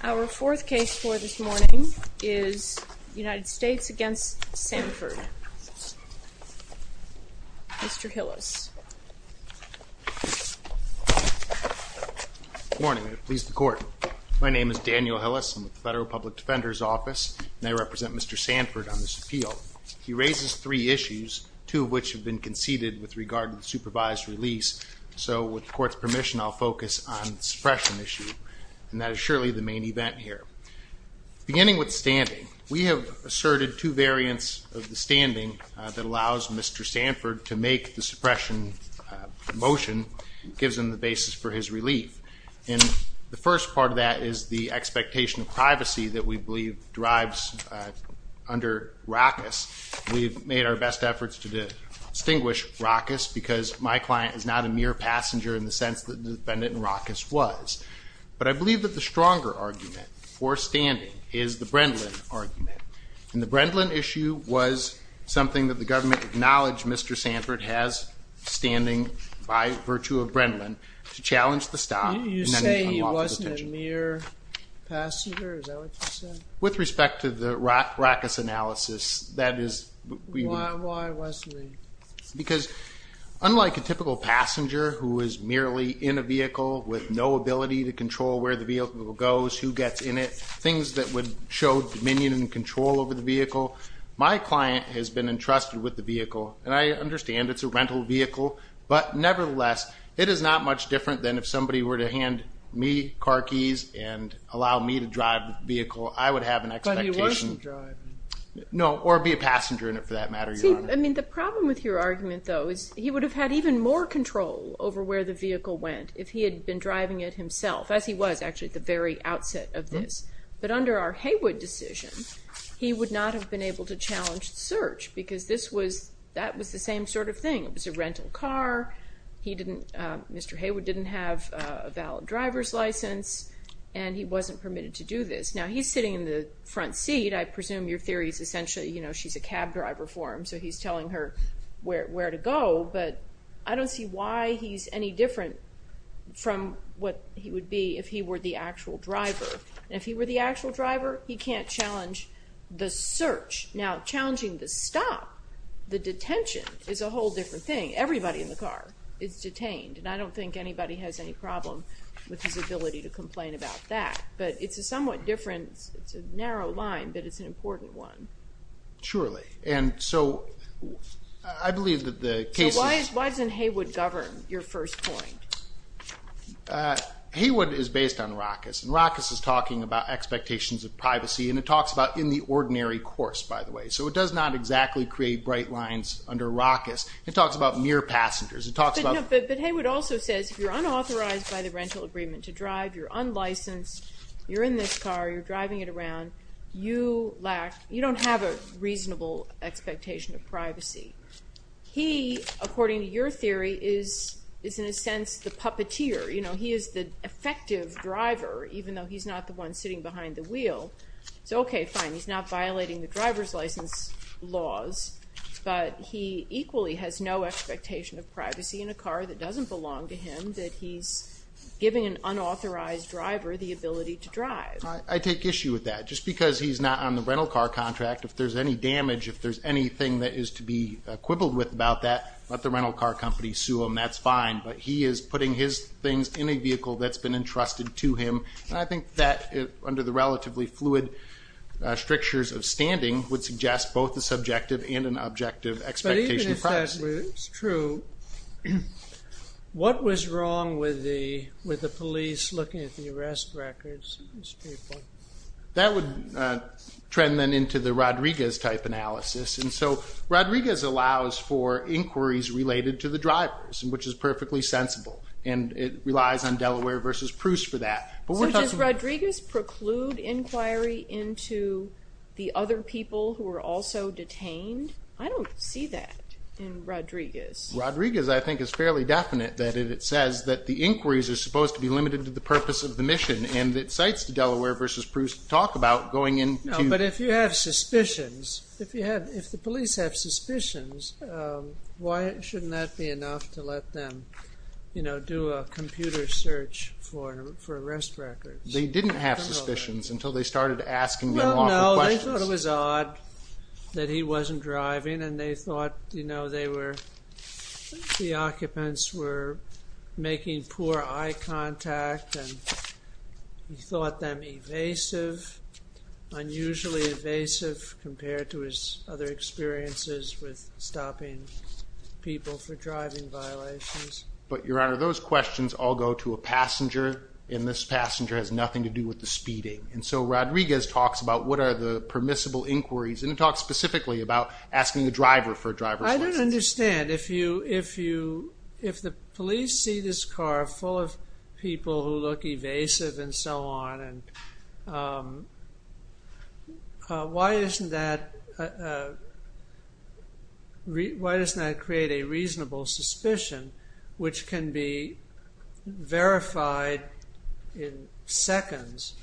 Our fourth case for this morning is United States against Sanford. Mr. Hillis. Good morning. I please the court. My name is Daniel Hillis. I'm with the Federal Public Defender's Office and I represent Mr. Sanford on this appeal. He raises three issues, two of which have been conceded with regard to the supervised release. So with the court's permission, I'll focus on suppression issue and that is surely the main event here. Beginning with standing, we have asserted two variants of the standing that allows Mr. Sanford to make the suppression motion gives him the basis for his relief. And the first part of that is the expectation of privacy that we believe drives under raucous. We've made our best efforts to distinguish raucous because my client is not a mere passenger in the sense that the defendant in raucous was. But I believe that the stronger argument for standing is the Brendan argument. And the Brendan issue was something that the government acknowledged Mr. Sanford has standing by virtue of Brendan to challenge the stop. You say he wasn't a mere passenger? With respect to the raucous analysis, that is because unlike a typical passenger who is merely in a vehicle with no ability to control where the vehicle goes, who gets in it, things that would show dominion and control over the vehicle, my client has been entrusted with the vehicle. And I understand it's a rental vehicle, but nevertheless it is not much different than if somebody were to hand me car keys and allow me to drive the vehicle, I would have an expectation. But he wasn't driving? No, or be a passenger in it for that matter. I mean the problem with your argument though is he would have had even more control over where the vehicle went if he had been driving it himself, as he was actually at the very outset of this. But under our Haywood decision, he would not have been able to challenge the search because this was, that was the same sort of thing. It didn't, Mr. Haywood didn't have a valid driver's license and he wasn't permitted to do this. Now he's sitting in the front seat, I presume your theory is essentially, you know, she's a cab driver for him, so he's telling her where to go, but I don't see why he's any different from what he would be if he were the actual driver. If he were the actual driver, he can't challenge the search. Now challenging the stop, the detention, is a whole different thing. Everybody in the world is detained and I don't think anybody has any problem with his ability to complain about that. But it's a somewhat different, it's a narrow line, but it's an important one. Surely, and so I believe that the case is... So why doesn't Haywood govern, your first point? Haywood is based on Rackus and Rackus is talking about expectations of privacy and it talks about in the ordinary course, by the way. So it does not exactly create bright lines under Rackus. It talks about mere passengers. But Haywood also says if you're unauthorized by the rental agreement to drive, you're unlicensed, you're in this car, you're driving it around, you lack, you don't have a reasonable expectation of privacy. He, according to your theory, is in a sense the puppeteer. You know, he is the effective driver, even though he's not the one sitting behind the wheel. So okay, fine, he's not violating the driver's license laws, but he equally has no expectation of privacy in a car that doesn't belong to him, that he's giving an unauthorized driver the ability to drive. I take issue with that. Just because he's not on the rental car contract, if there's any damage, if there's anything that is to be quibbled with about that, let the rental car company sue him, that's fine. But he is putting his things in a vehicle that's been entrusted to him. And I think that, under the relatively fluid strictures of standing, would suggest both the subjective and an objective expectation of privacy. It's true. What was wrong with the police looking at the arrest records? That would trend then into the Rodriguez type analysis. And so Rodriguez allows for inquiries related to the drivers, which is perfectly sensible, and it relies on Delaware versus Proust for that. So does Rodriguez preclude inquiry into the other people who are also detained? I don't see that. Rodriguez, I think, is fairly definite that it says that the inquiries are supposed to be limited to the purpose of the mission and that cites to Delaware versus Proust talk about going in. But if you have suspicions, if you have, if the police have suspicions, why shouldn't that be enough to let them, you know, do a computer search for arrest records? They didn't have suspicions until they started asking them questions. They thought it was odd that he wasn't driving and they thought, you know, they were, the occupants were making poor eye contact and he thought them evasive, unusually evasive, compared to his other experiences with stopping people for driving violations. But, Your Honor, those questions all go to a passenger, and this passenger has nothing to do with the speeding. And so Rodriguez talks about what are the permissible inquiries, and he talks specifically about asking the driver for a driver's license. I don't understand, if you, if you, if the police see this car full of people who look evasive and so on, and why isn't that, why doesn't that create a reasonable suspicion, which can be verified in seconds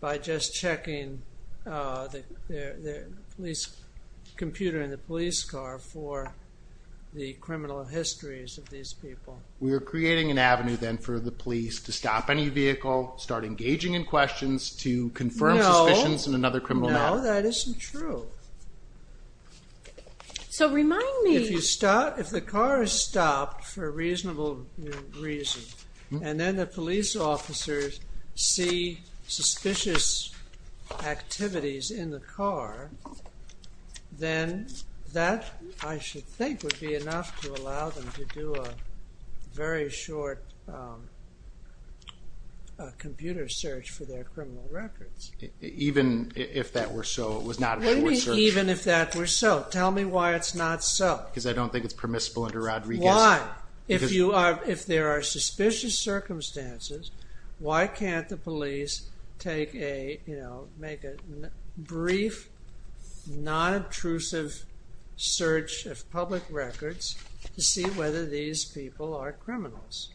by just checking the computer in the police car for the criminal histories of these people. We're creating an avenue then for the police to stop any vehicle, start engaging in questions, to confirm suspicions in another criminal matter. No, that isn't true. So, remind me. If you stop, if the car is stopped for a then that, I should think, would be enough to allow them to do a very short computer search for their criminal records. Even if that were so, it was not a search. Even if that were so, tell me why it's not so. Because I don't think it's permissible under Rodriguez. Why? If you are, if there are suspicious circumstances, why can't the police take a, you know, make a brief, non-obtrusive search of public records to see whether these people are criminals?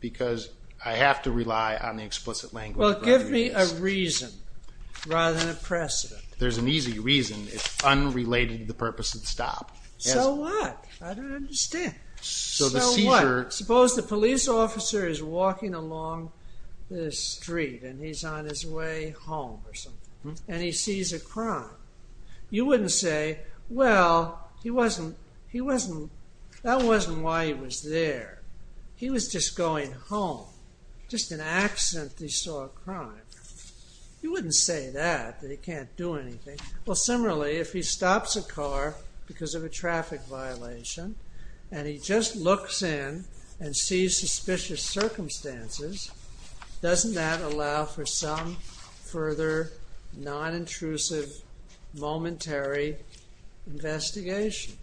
Because I have to rely on the explicit language of Rodriguez. Well, give me a reason, rather than a precedent. There's an easy reason. It's unrelated to the purpose of the stop. So what? I don't understand. So what? Suppose the police officer is walking along this street and he's on his way home, or something, and he sees a crime. You wouldn't say, well, he wasn't, he wasn't, that wasn't why he was there. He was just going home. Just an accident that he saw a crime. You wouldn't say that, that he can't do anything. Well, similarly, if he stops a car because of a traffic violation, and he just looks in and sees suspicious circumstances, doesn't that allow for some further non-intrusive, momentary investigation?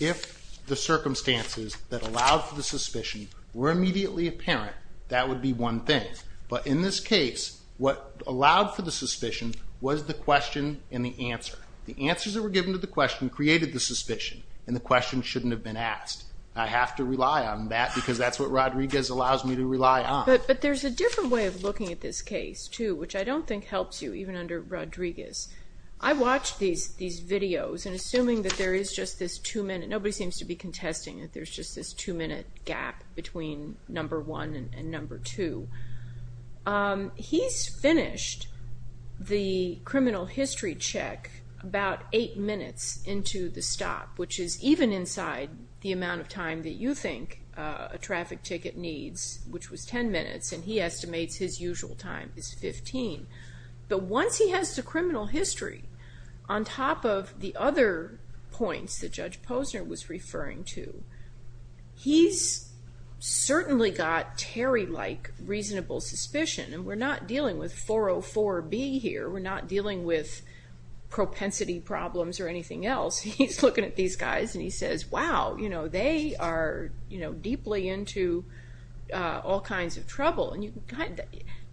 If the circumstances that allowed for the suspicion were immediately apparent, that would be one thing. But in this case, what allowed for the suspicion was the question and the answer. The answers that were given to the question created the suspicion, and the question shouldn't have been asked. I have to rely on that, because that's what Rodriguez allows me to rely on. But there's a different way of looking at this case, too, which I don't think helps you, even under Rodriguez. I watch these videos, and assuming that there is just this two-minute, nobody seems to be contesting that there's just this two-minute gap between number one and number two, he's finished the criminal history check about eight minutes into the stop, which is even inside the amount of time that you think a traffic ticket needs, which was ten minutes, and he estimates his usual time is 15. But once he has the criminal history, on top of the other points that Judge Posner was referring to, he's certainly got Terry-like reasonable suspicion, and we're not dealing with 404B here, we're not dealing with propensity problems or anything else. He's looking at these guys, and he says, wow, they are deeply into all kinds of trouble.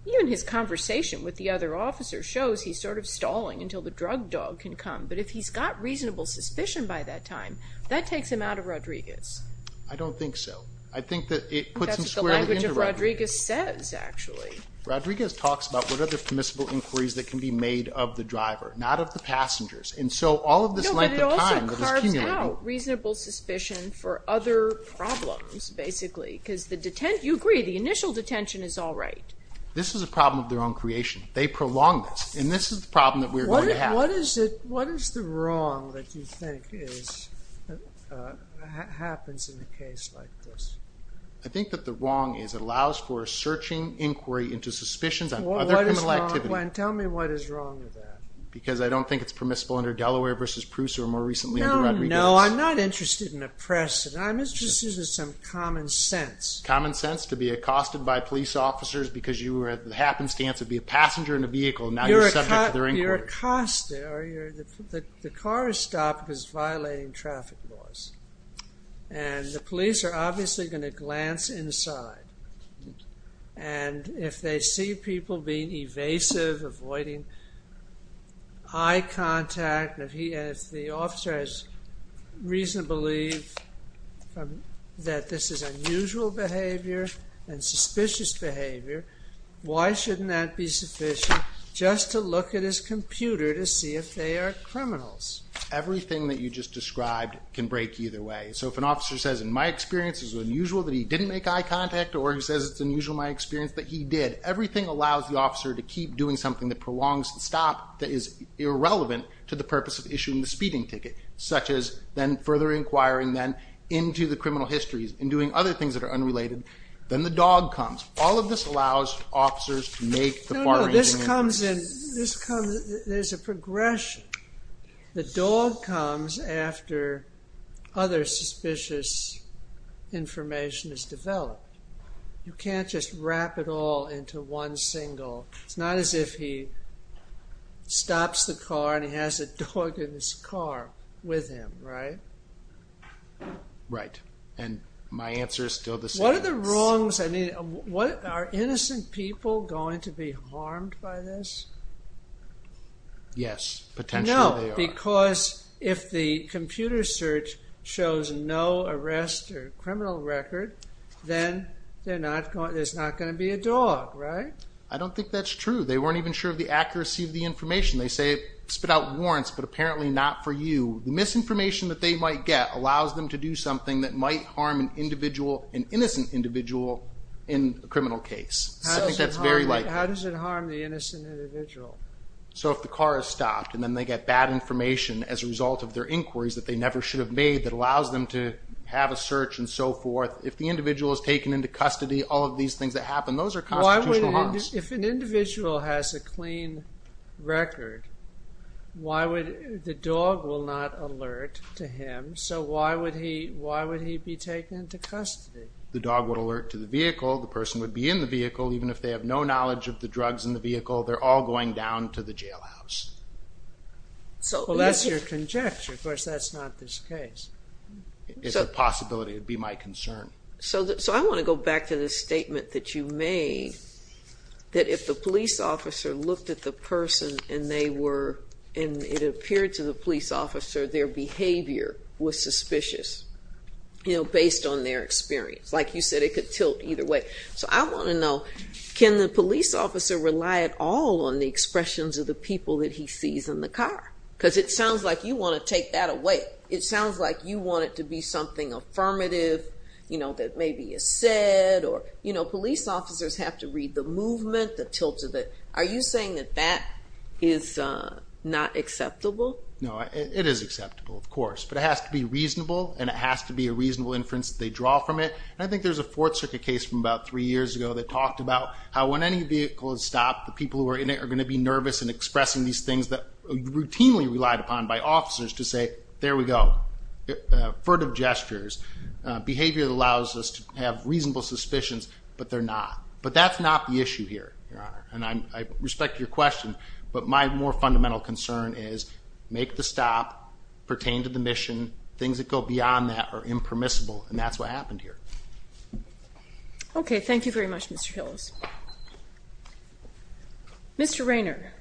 Even his conversation with the other officer shows he's sort of stalling until the drug dog can come, but if he's got reasonable suspicion by that time, that takes him out of Rodriguez. I don't think so. I think that it puts him squarely into Rodriguez. That's what the language of Rodriguez says, actually. Rodriguez talks about what other permissible inquiries that can be made of the driver, not of the passengers, and so all of this length of time that is cumulative. No, but it also carves out reasonable suspicion for other problems, basically, because the, you agree, the initial detention is all right. This is a problem of their own creation. They prolonged this, and this is the problem that we're going to have. What is the wrong that you think happens in a case like this? I think that the wrong is it allows for searching inquiry into suspicions on other people's activity. Tell me what is wrong with that. Because I don't think it's permissible under Delaware v. Prusa or, more recently, under Rodriguez. No, no, I'm not interested in oppressing. I'm interested in some common sense. Common sense? To be accosted by police officers because you were at the happenstance of being a passenger in a vehicle, and now you're subject to their inquiry. Well, you're accosted. The car is stopped because it's violating traffic laws. And the police are obviously going to glance inside, and if they see people being evasive, avoiding eye contact, and if the officer has reason to believe that this is unusual behavior and suspicious behavior, why shouldn't that be sufficient just to look at his computer to see if they are criminals? Everything that you just described can break either way. So if an officer says, in my experience, it's unusual that he didn't make eye contact, or he says it's unusual in my experience that he did, everything allows the officer to keep doing something that prolongs the stop that is irrelevant to the purpose of issuing the speeding ticket, such as then further inquiring then into the criminal histories and doing other things that are unrelated. Then the dog comes. All of this allows officers to make the far-reaching inquiries. No, no, this comes in, there's a progression. The dog comes after other suspicious information is developed. You can't just wrap it all into one single, it's not as if he stops the car and he has a dog in his car with him, right? Right, and my answer is still the same. What are the wrongs, I mean, are innocent people going to be harmed by this? Yes, potentially they are. No, because if the computer search shows no arrest or criminal record, then there's not going to be a dog, right? I don't think that's true. They weren't even sure of the accuracy of the information. They say it spit out warrants, but apparently not for you. The misinformation that they might get allows them to do something that might harm an individual, an innocent individual in a criminal case. I think that's very likely. How does it harm the innocent individual? So if the car is stopped and then they get bad information as a result of their inquiries that they never should have made that allows them to have a search and so forth, if the individual is taken into custody, all of these things that happen, those are constitutional harms. If an individual has a clean record, the dog will not alert to him, so why would he be taken into custody? The dog would alert to the vehicle, the person would be in the vehicle, even if they have no knowledge of the drugs in the vehicle, they're all going down to the jailhouse. Well, that's your conjecture. Of course, that's not this case. It's a possibility. It would be my concern. So I want to go back to the statement that you made, that if the police officer looked at the person and it appeared to the police officer their behavior was suspicious based on their experience. Like you said, it could tilt either way. So I want to know, can the police officer rely at all on the expressions of the people that he sees in the car? Because it sounds like you want to take that away. It sounds like you want it to be something affirmative that maybe is said, or police officers have to read the movement, the tilt of it. Are you saying that that is not acceptable? No, it is acceptable, of course. But it has to be reasonable, and it has to be a reasonable inference that they draw from it. And I think there's a Fourth Circuit case from about three years ago that talked about how when any vehicle is stopped, the people who are in it are going to be nervous and expressing these things that are routinely relied upon by officers to say, there we go, furtive gestures, behavior that allows us to have reasonable suspicions, but they're not. But that's not the issue here, Your Honor, and I respect your question, but my more fundamental concern is make the stop, pertain to the mission, things that go beyond that are impermissible, and that's what happened here. Okay, thank you very much, Mr. Hillis. Mr. Raynor.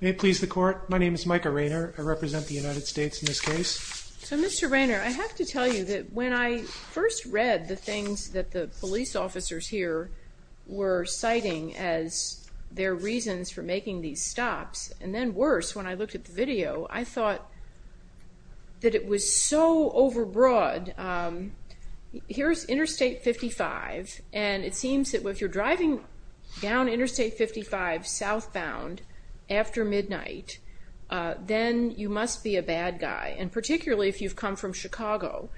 May it please the Court, my name is Micah Raynor. I represent the United States in this case. So, Mr. Raynor, I have to tell you that when I first read the things that the police officers here were citing as their reasons for making these stops, and then worse, when I looked at the video, I thought that it was so overbroad. Here's Interstate 55, and it seems that if you're driving down Interstate 55 southbound after midnight, then you must be a bad guy, and particularly if you've come from Chicago.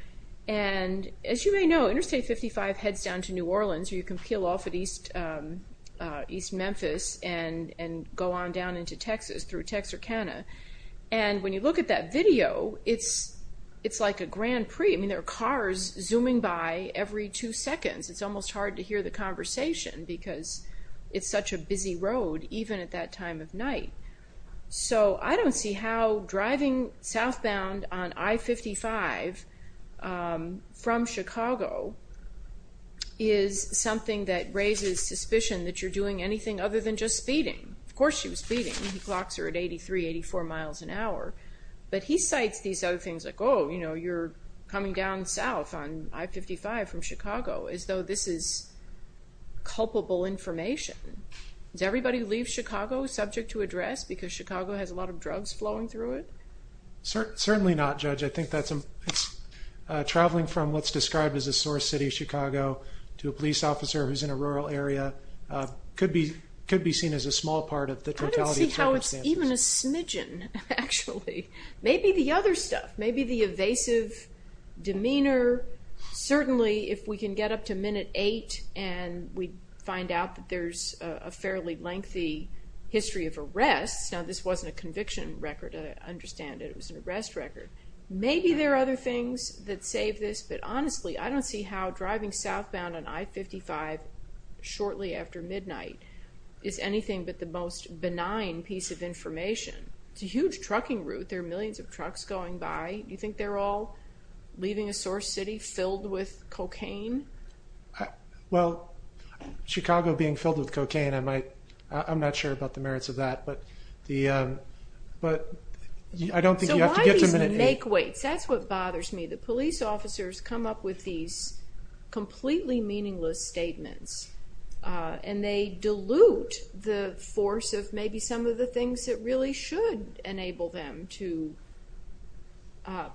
And as you may know, Interstate 55 heads down to New Orleans, or you can peel off at East Memphis and go on down into Texas through Texarkana. And when you look at that video, it's like a Grand Prix. I mean, there are cars zooming by every two seconds. It's almost hard to hear the conversation because it's such a busy road, even at that time of night. So I don't see how driving southbound on I-55 from Chicago is something that raises suspicion that you're doing anything other than just speeding. Of course she was speeding. He clocks her at 83, 84 miles an hour. But he cites these other things like, oh, you know, you're coming down south on I-55 from Chicago, as though this is culpable information. Does everybody who leaves Chicago subject to address because Chicago has a lot of drugs flowing through it? Certainly not, Judge. I think that's traveling from what's described as a sore city, Chicago, to a police officer who's in a rural area could be seen as a small part of the totality of circumstances. I don't see how it's even a smidgen, actually. Maybe the other stuff, maybe the evasive demeanor. Certainly if we can get up to minute eight and we find out that there's a fairly lengthy history of arrests, now this wasn't a conviction record, I understand it was an arrest record. Maybe there are other things that save this, but honestly I don't see how driving southbound on I-55 shortly after midnight is anything but the most benign piece of information. It's a huge trucking route. There are millions of trucks going by. Do you think they're all leaving a sore city filled with cocaine? Well, Chicago being filled with cocaine, I'm not sure about the merits of that, but I don't think you have to get to minute eight. So why these make-weights? That's what bothers me. The police officers come up with these completely meaningless statements, and they dilute the force of maybe some of the things that really should enable them to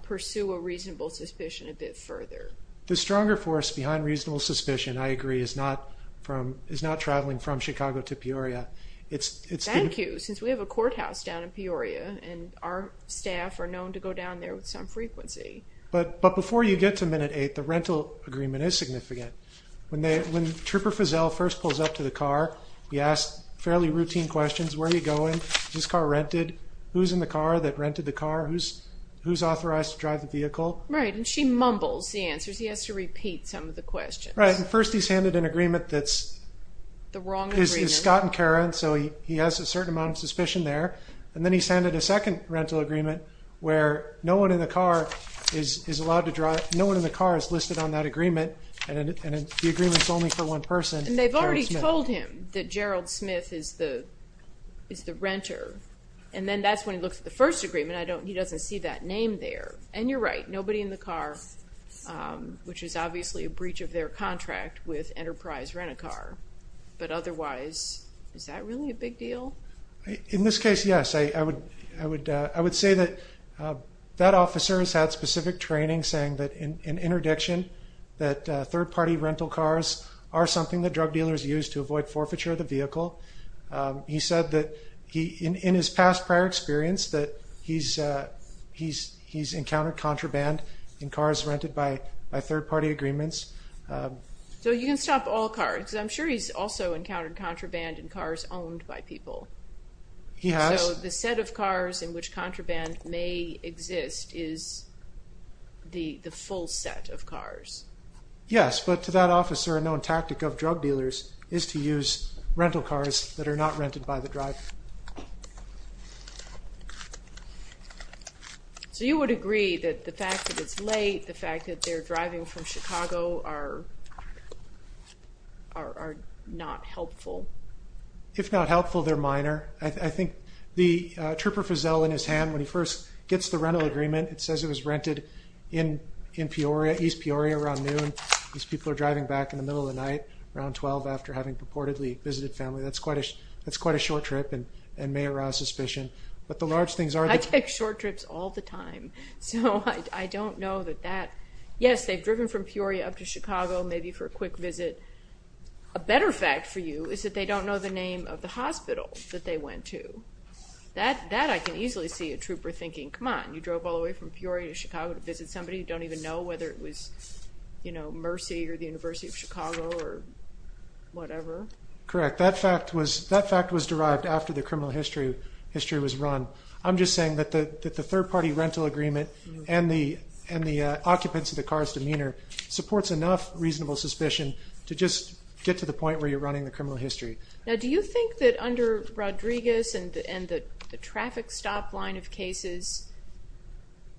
pursue a reasonable suspicion a bit further. The stronger force behind reasonable suspicion, I agree, is not traveling from Chicago to Peoria. Thank you, since we have a courthouse down in Peoria, and our staff are known to go down there with some frequency. But before you get to minute eight, the rental agreement is significant. When Trooper Fazell first pulls up to the car, he asks fairly routine questions. Where are you going? Is this car rented? Who's in the car that rented the car? Who's authorized to drive the vehicle? Right, and she mumbles the answers. He has to repeat some of the questions. Right, and first he's handed an agreement that's Scott and Karen, so he has a certain amount of suspicion there. And then he's handed a second rental agreement where no one in the car is listed on that agreement, and the agreement's only for one person, Gerald Smith. And they've already told him that Gerald Smith is the renter. And then that's when he looks at the first agreement. He doesn't see that name there. And you're right, nobody in the car, which is obviously a breach of their contract with Enterprise Rent-A-Car. But otherwise, is that really a big deal? In this case, yes. I would say that that officer has had specific training saying that in interdiction, that third-party rental cars are something that drug dealers use to avoid forfeiture of the vehicle. He said that in his past prior experience that he's encountered contraband in cars rented by third-party agreements. So you can stop all cars. I'm sure he's also encountered contraband in cars owned by people. He has. So the set of cars in which contraband may exist is the full set of cars. Yes, but to that officer, a known tactic of drug dealers is to use rental cars that are not rented by the driver. So you would agree that the fact that it's late, the fact that they're driving from Chicago, are not helpful? If not helpful, they're minor. I think the Trooper Fizell, in his hand, when he first gets the rental agreement, it says it was rented in East Peoria around noon. These people are driving back in the middle of the night around 12 after having purportedly visited family. That's quite a short trip and may arouse suspicion. I take short trips all the time, so I don't know that that... Yes, they've driven from Peoria up to Chicago maybe for a quick visit. A better fact for you is that they don't know the name of the hospital that they went to. That I can easily see a trooper thinking, come on, you drove all the way from Peoria to Chicago to visit somebody you don't even know, whether it was Mercy or the University of Chicago or whatever. Correct. That fact was derived after the criminal history was run. I'm just saying that the third-party rental agreement and the occupants of the car's demeanor supports enough reasonable suspicion to just get to the point where you're running the criminal history. Now, do you think that under Rodriguez and the traffic stop line of cases,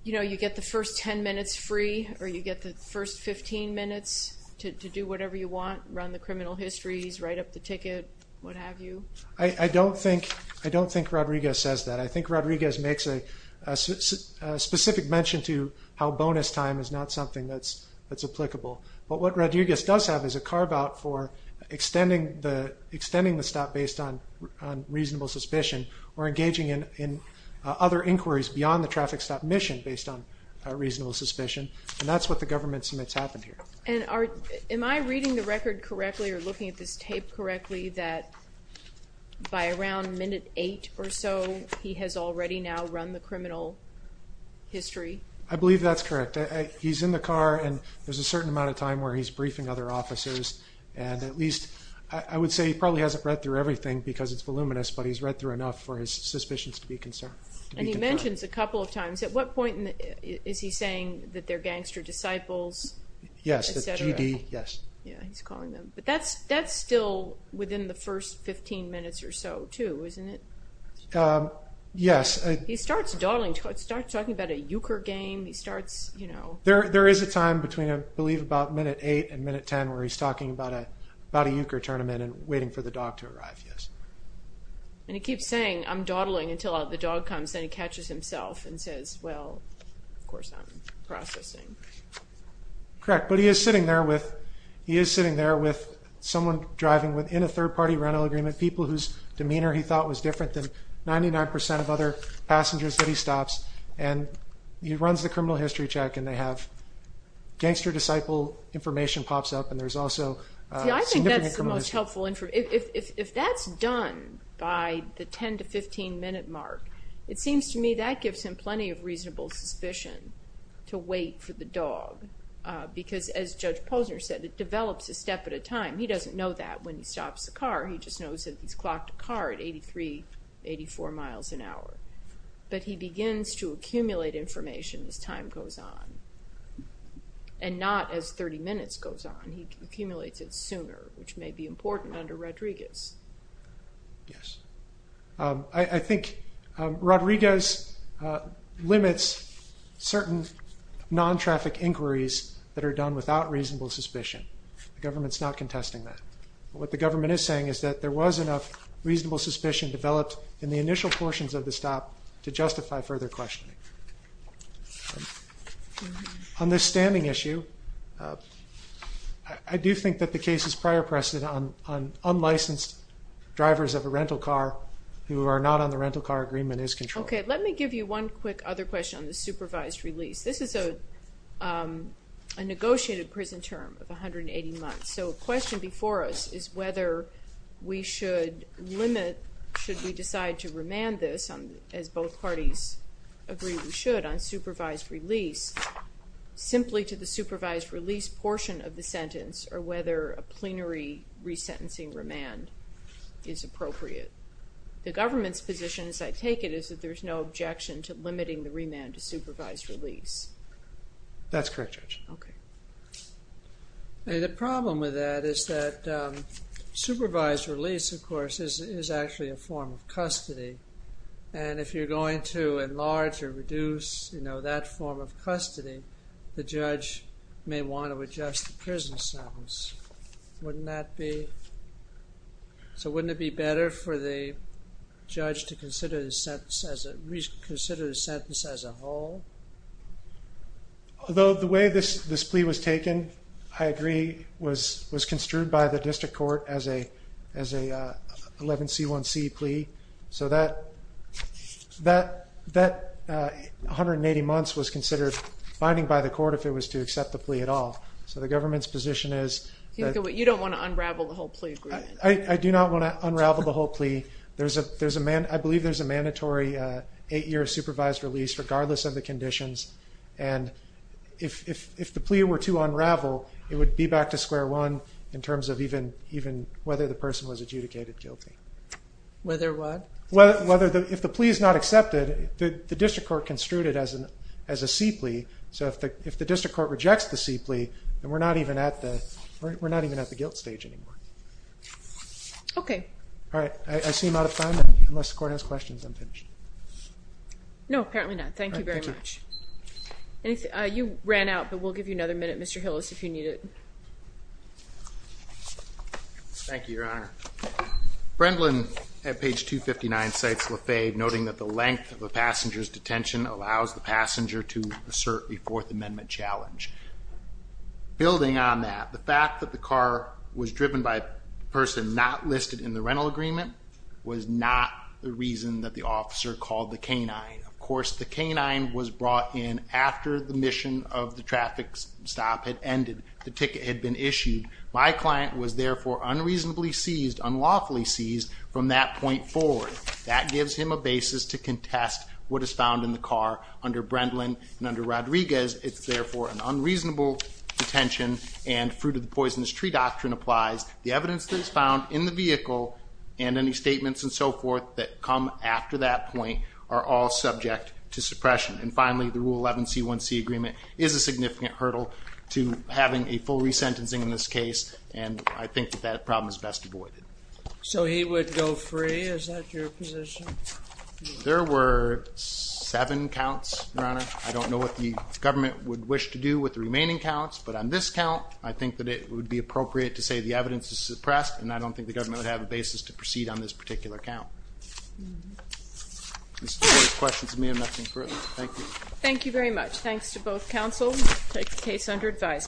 you get the first 10 minutes free or you get the first 15 minutes to do whatever you want, run the criminal histories, write up the ticket, what have you? I don't think Rodriguez says that. I think Rodriguez makes a specific mention to how bonus time is not something that's applicable. But what Rodriguez does have is a carve-out for extending the stop based on reasonable suspicion or engaging in other inquiries beyond the traffic stop mission based on reasonable suspicion, and that's what the government submits happened here. And am I reading the record correctly or looking at this tape correctly that by around minute eight or so he has already now run the criminal history? I believe that's correct. He's in the car and there's a certain amount of time where he's briefing other officers, and at least I would say he probably hasn't read through everything because it's voluminous, but he's read through enough for his suspicions to be confirmed. And he mentions a couple of times. At what point is he saying that they're gangster disciples, et cetera? Yes, the GD, yes. Yeah, he's calling them. But that's still within the first 15 minutes or so too, isn't it? Yes. He starts dawdling, starts talking about a euchre game, he starts, you know. There is a time between I believe about minute eight and minute ten where he's talking about a euchre tournament and waiting for the dog to arrive, yes. And he keeps saying, I'm dawdling until the dog comes, then he catches himself and says, well, of course I'm processing. Correct. But he is sitting there with someone driving within a third-party rental agreement, people whose demeanor he thought was different than 99 percent of other passengers that he stops, and he runs the criminal history check and they have gangster disciple information pops up and there's also significant criminal history. See, I think that's the most helpful information. If that's done by the 10 to 15 minute mark, it seems to me that gives him plenty of reasonable suspicion to wait for the dog because, as Judge Posner said, it develops a step at a time. He doesn't know that when he stops the car. He just knows that he's clocked a car at 83, 84 miles an hour. But he begins to accumulate information as time goes on and not as 30 minutes goes on. He accumulates it sooner, which may be important under Rodriguez. Yes. I think Rodriguez limits certain non-traffic inquiries that are done without reasonable suspicion. The government's not contesting that. What the government is saying is that there was enough reasonable suspicion developed in the initial portions of the stop to justify further questioning. On this standing issue, I do think that the case is prior precedent on unlicensed drivers of a rental car who are not on the rental car agreement is controlled. Okay, let me give you one quick other question on the supervised release. This is a negotiated prison term of 180 months. So a question before us is whether we should limit, should we decide to remand this as both parties agree we should on supervised release simply to the supervised release portion of the sentence or whether a plenary resentencing remand is appropriate. The government's position, as I take it, is that there's no objection to limiting the remand to supervised release. That's correct, Judge. The problem with that is that supervised release, of course, is actually a form of custody. And if you're going to enlarge or reduce that form of custody, the judge may want to adjust the prison sentence. Wouldn't that be... So wouldn't it be better for the judge to consider the sentence as a whole? Although the way this plea was taken, I agree, was construed by the district court as a 11C1C plea. So that 180 months was considered binding by the court if it was to accept the plea at all. So the government's position is... You don't want to unravel the whole plea agreement. I do not want to unravel the whole plea. I believe there's a mandatory eight-year supervised release regardless of the conditions. And if the plea were to unravel, it would be back to square one in terms of even whether the person was adjudicated guilty. Whether what? If the plea is not accepted, the district court construed it as a C plea. So if the district court rejects the C plea, then we're not even at the guilt stage anymore. Okay. All right. I seem out of time. Unless the court has questions, I'm finished. No, apparently not. Thank you very much. You ran out, but we'll give you another minute, Mr. Hillis, if you need it. Thank you, Your Honor. Brendlin, at page 259, cites Lafayette, noting that the length of a passenger's detention allows the passenger to assert a Fourth Amendment challenge. Building on that, the fact that the car was driven by a person not listed in the rental agreement was not the reason that the officer called the canine. Of course, the canine was brought in after the mission of the traffic stop had ended. The ticket had been issued. My client was therefore unreasonably seized, unlawfully seized, from that point forward. That gives him a basis to contest what is found in the car under Brendlin and under Rodriguez. It's therefore an unreasonable detention, and fruit of the poisonous tree doctrine applies. The evidence that is found in the vehicle and any statements and so forth that come after that point are all subject to suppression. And finally, the Rule 11C1C agreement is a significant hurdle to having a full resentencing in this case, and I think that that problem is best avoided. So he would go free? Is that your position? There were seven counts, Your Honor. I don't know what the government would wish to do with the remaining counts, but on this count, I think that it would be appropriate to say the evidence is suppressed, and I don't think the government would have a basis to proceed on this particular count. Those questions mean nothing to me. Thank you. Thank you very much. Thanks to both counsel. Take the case under advisement.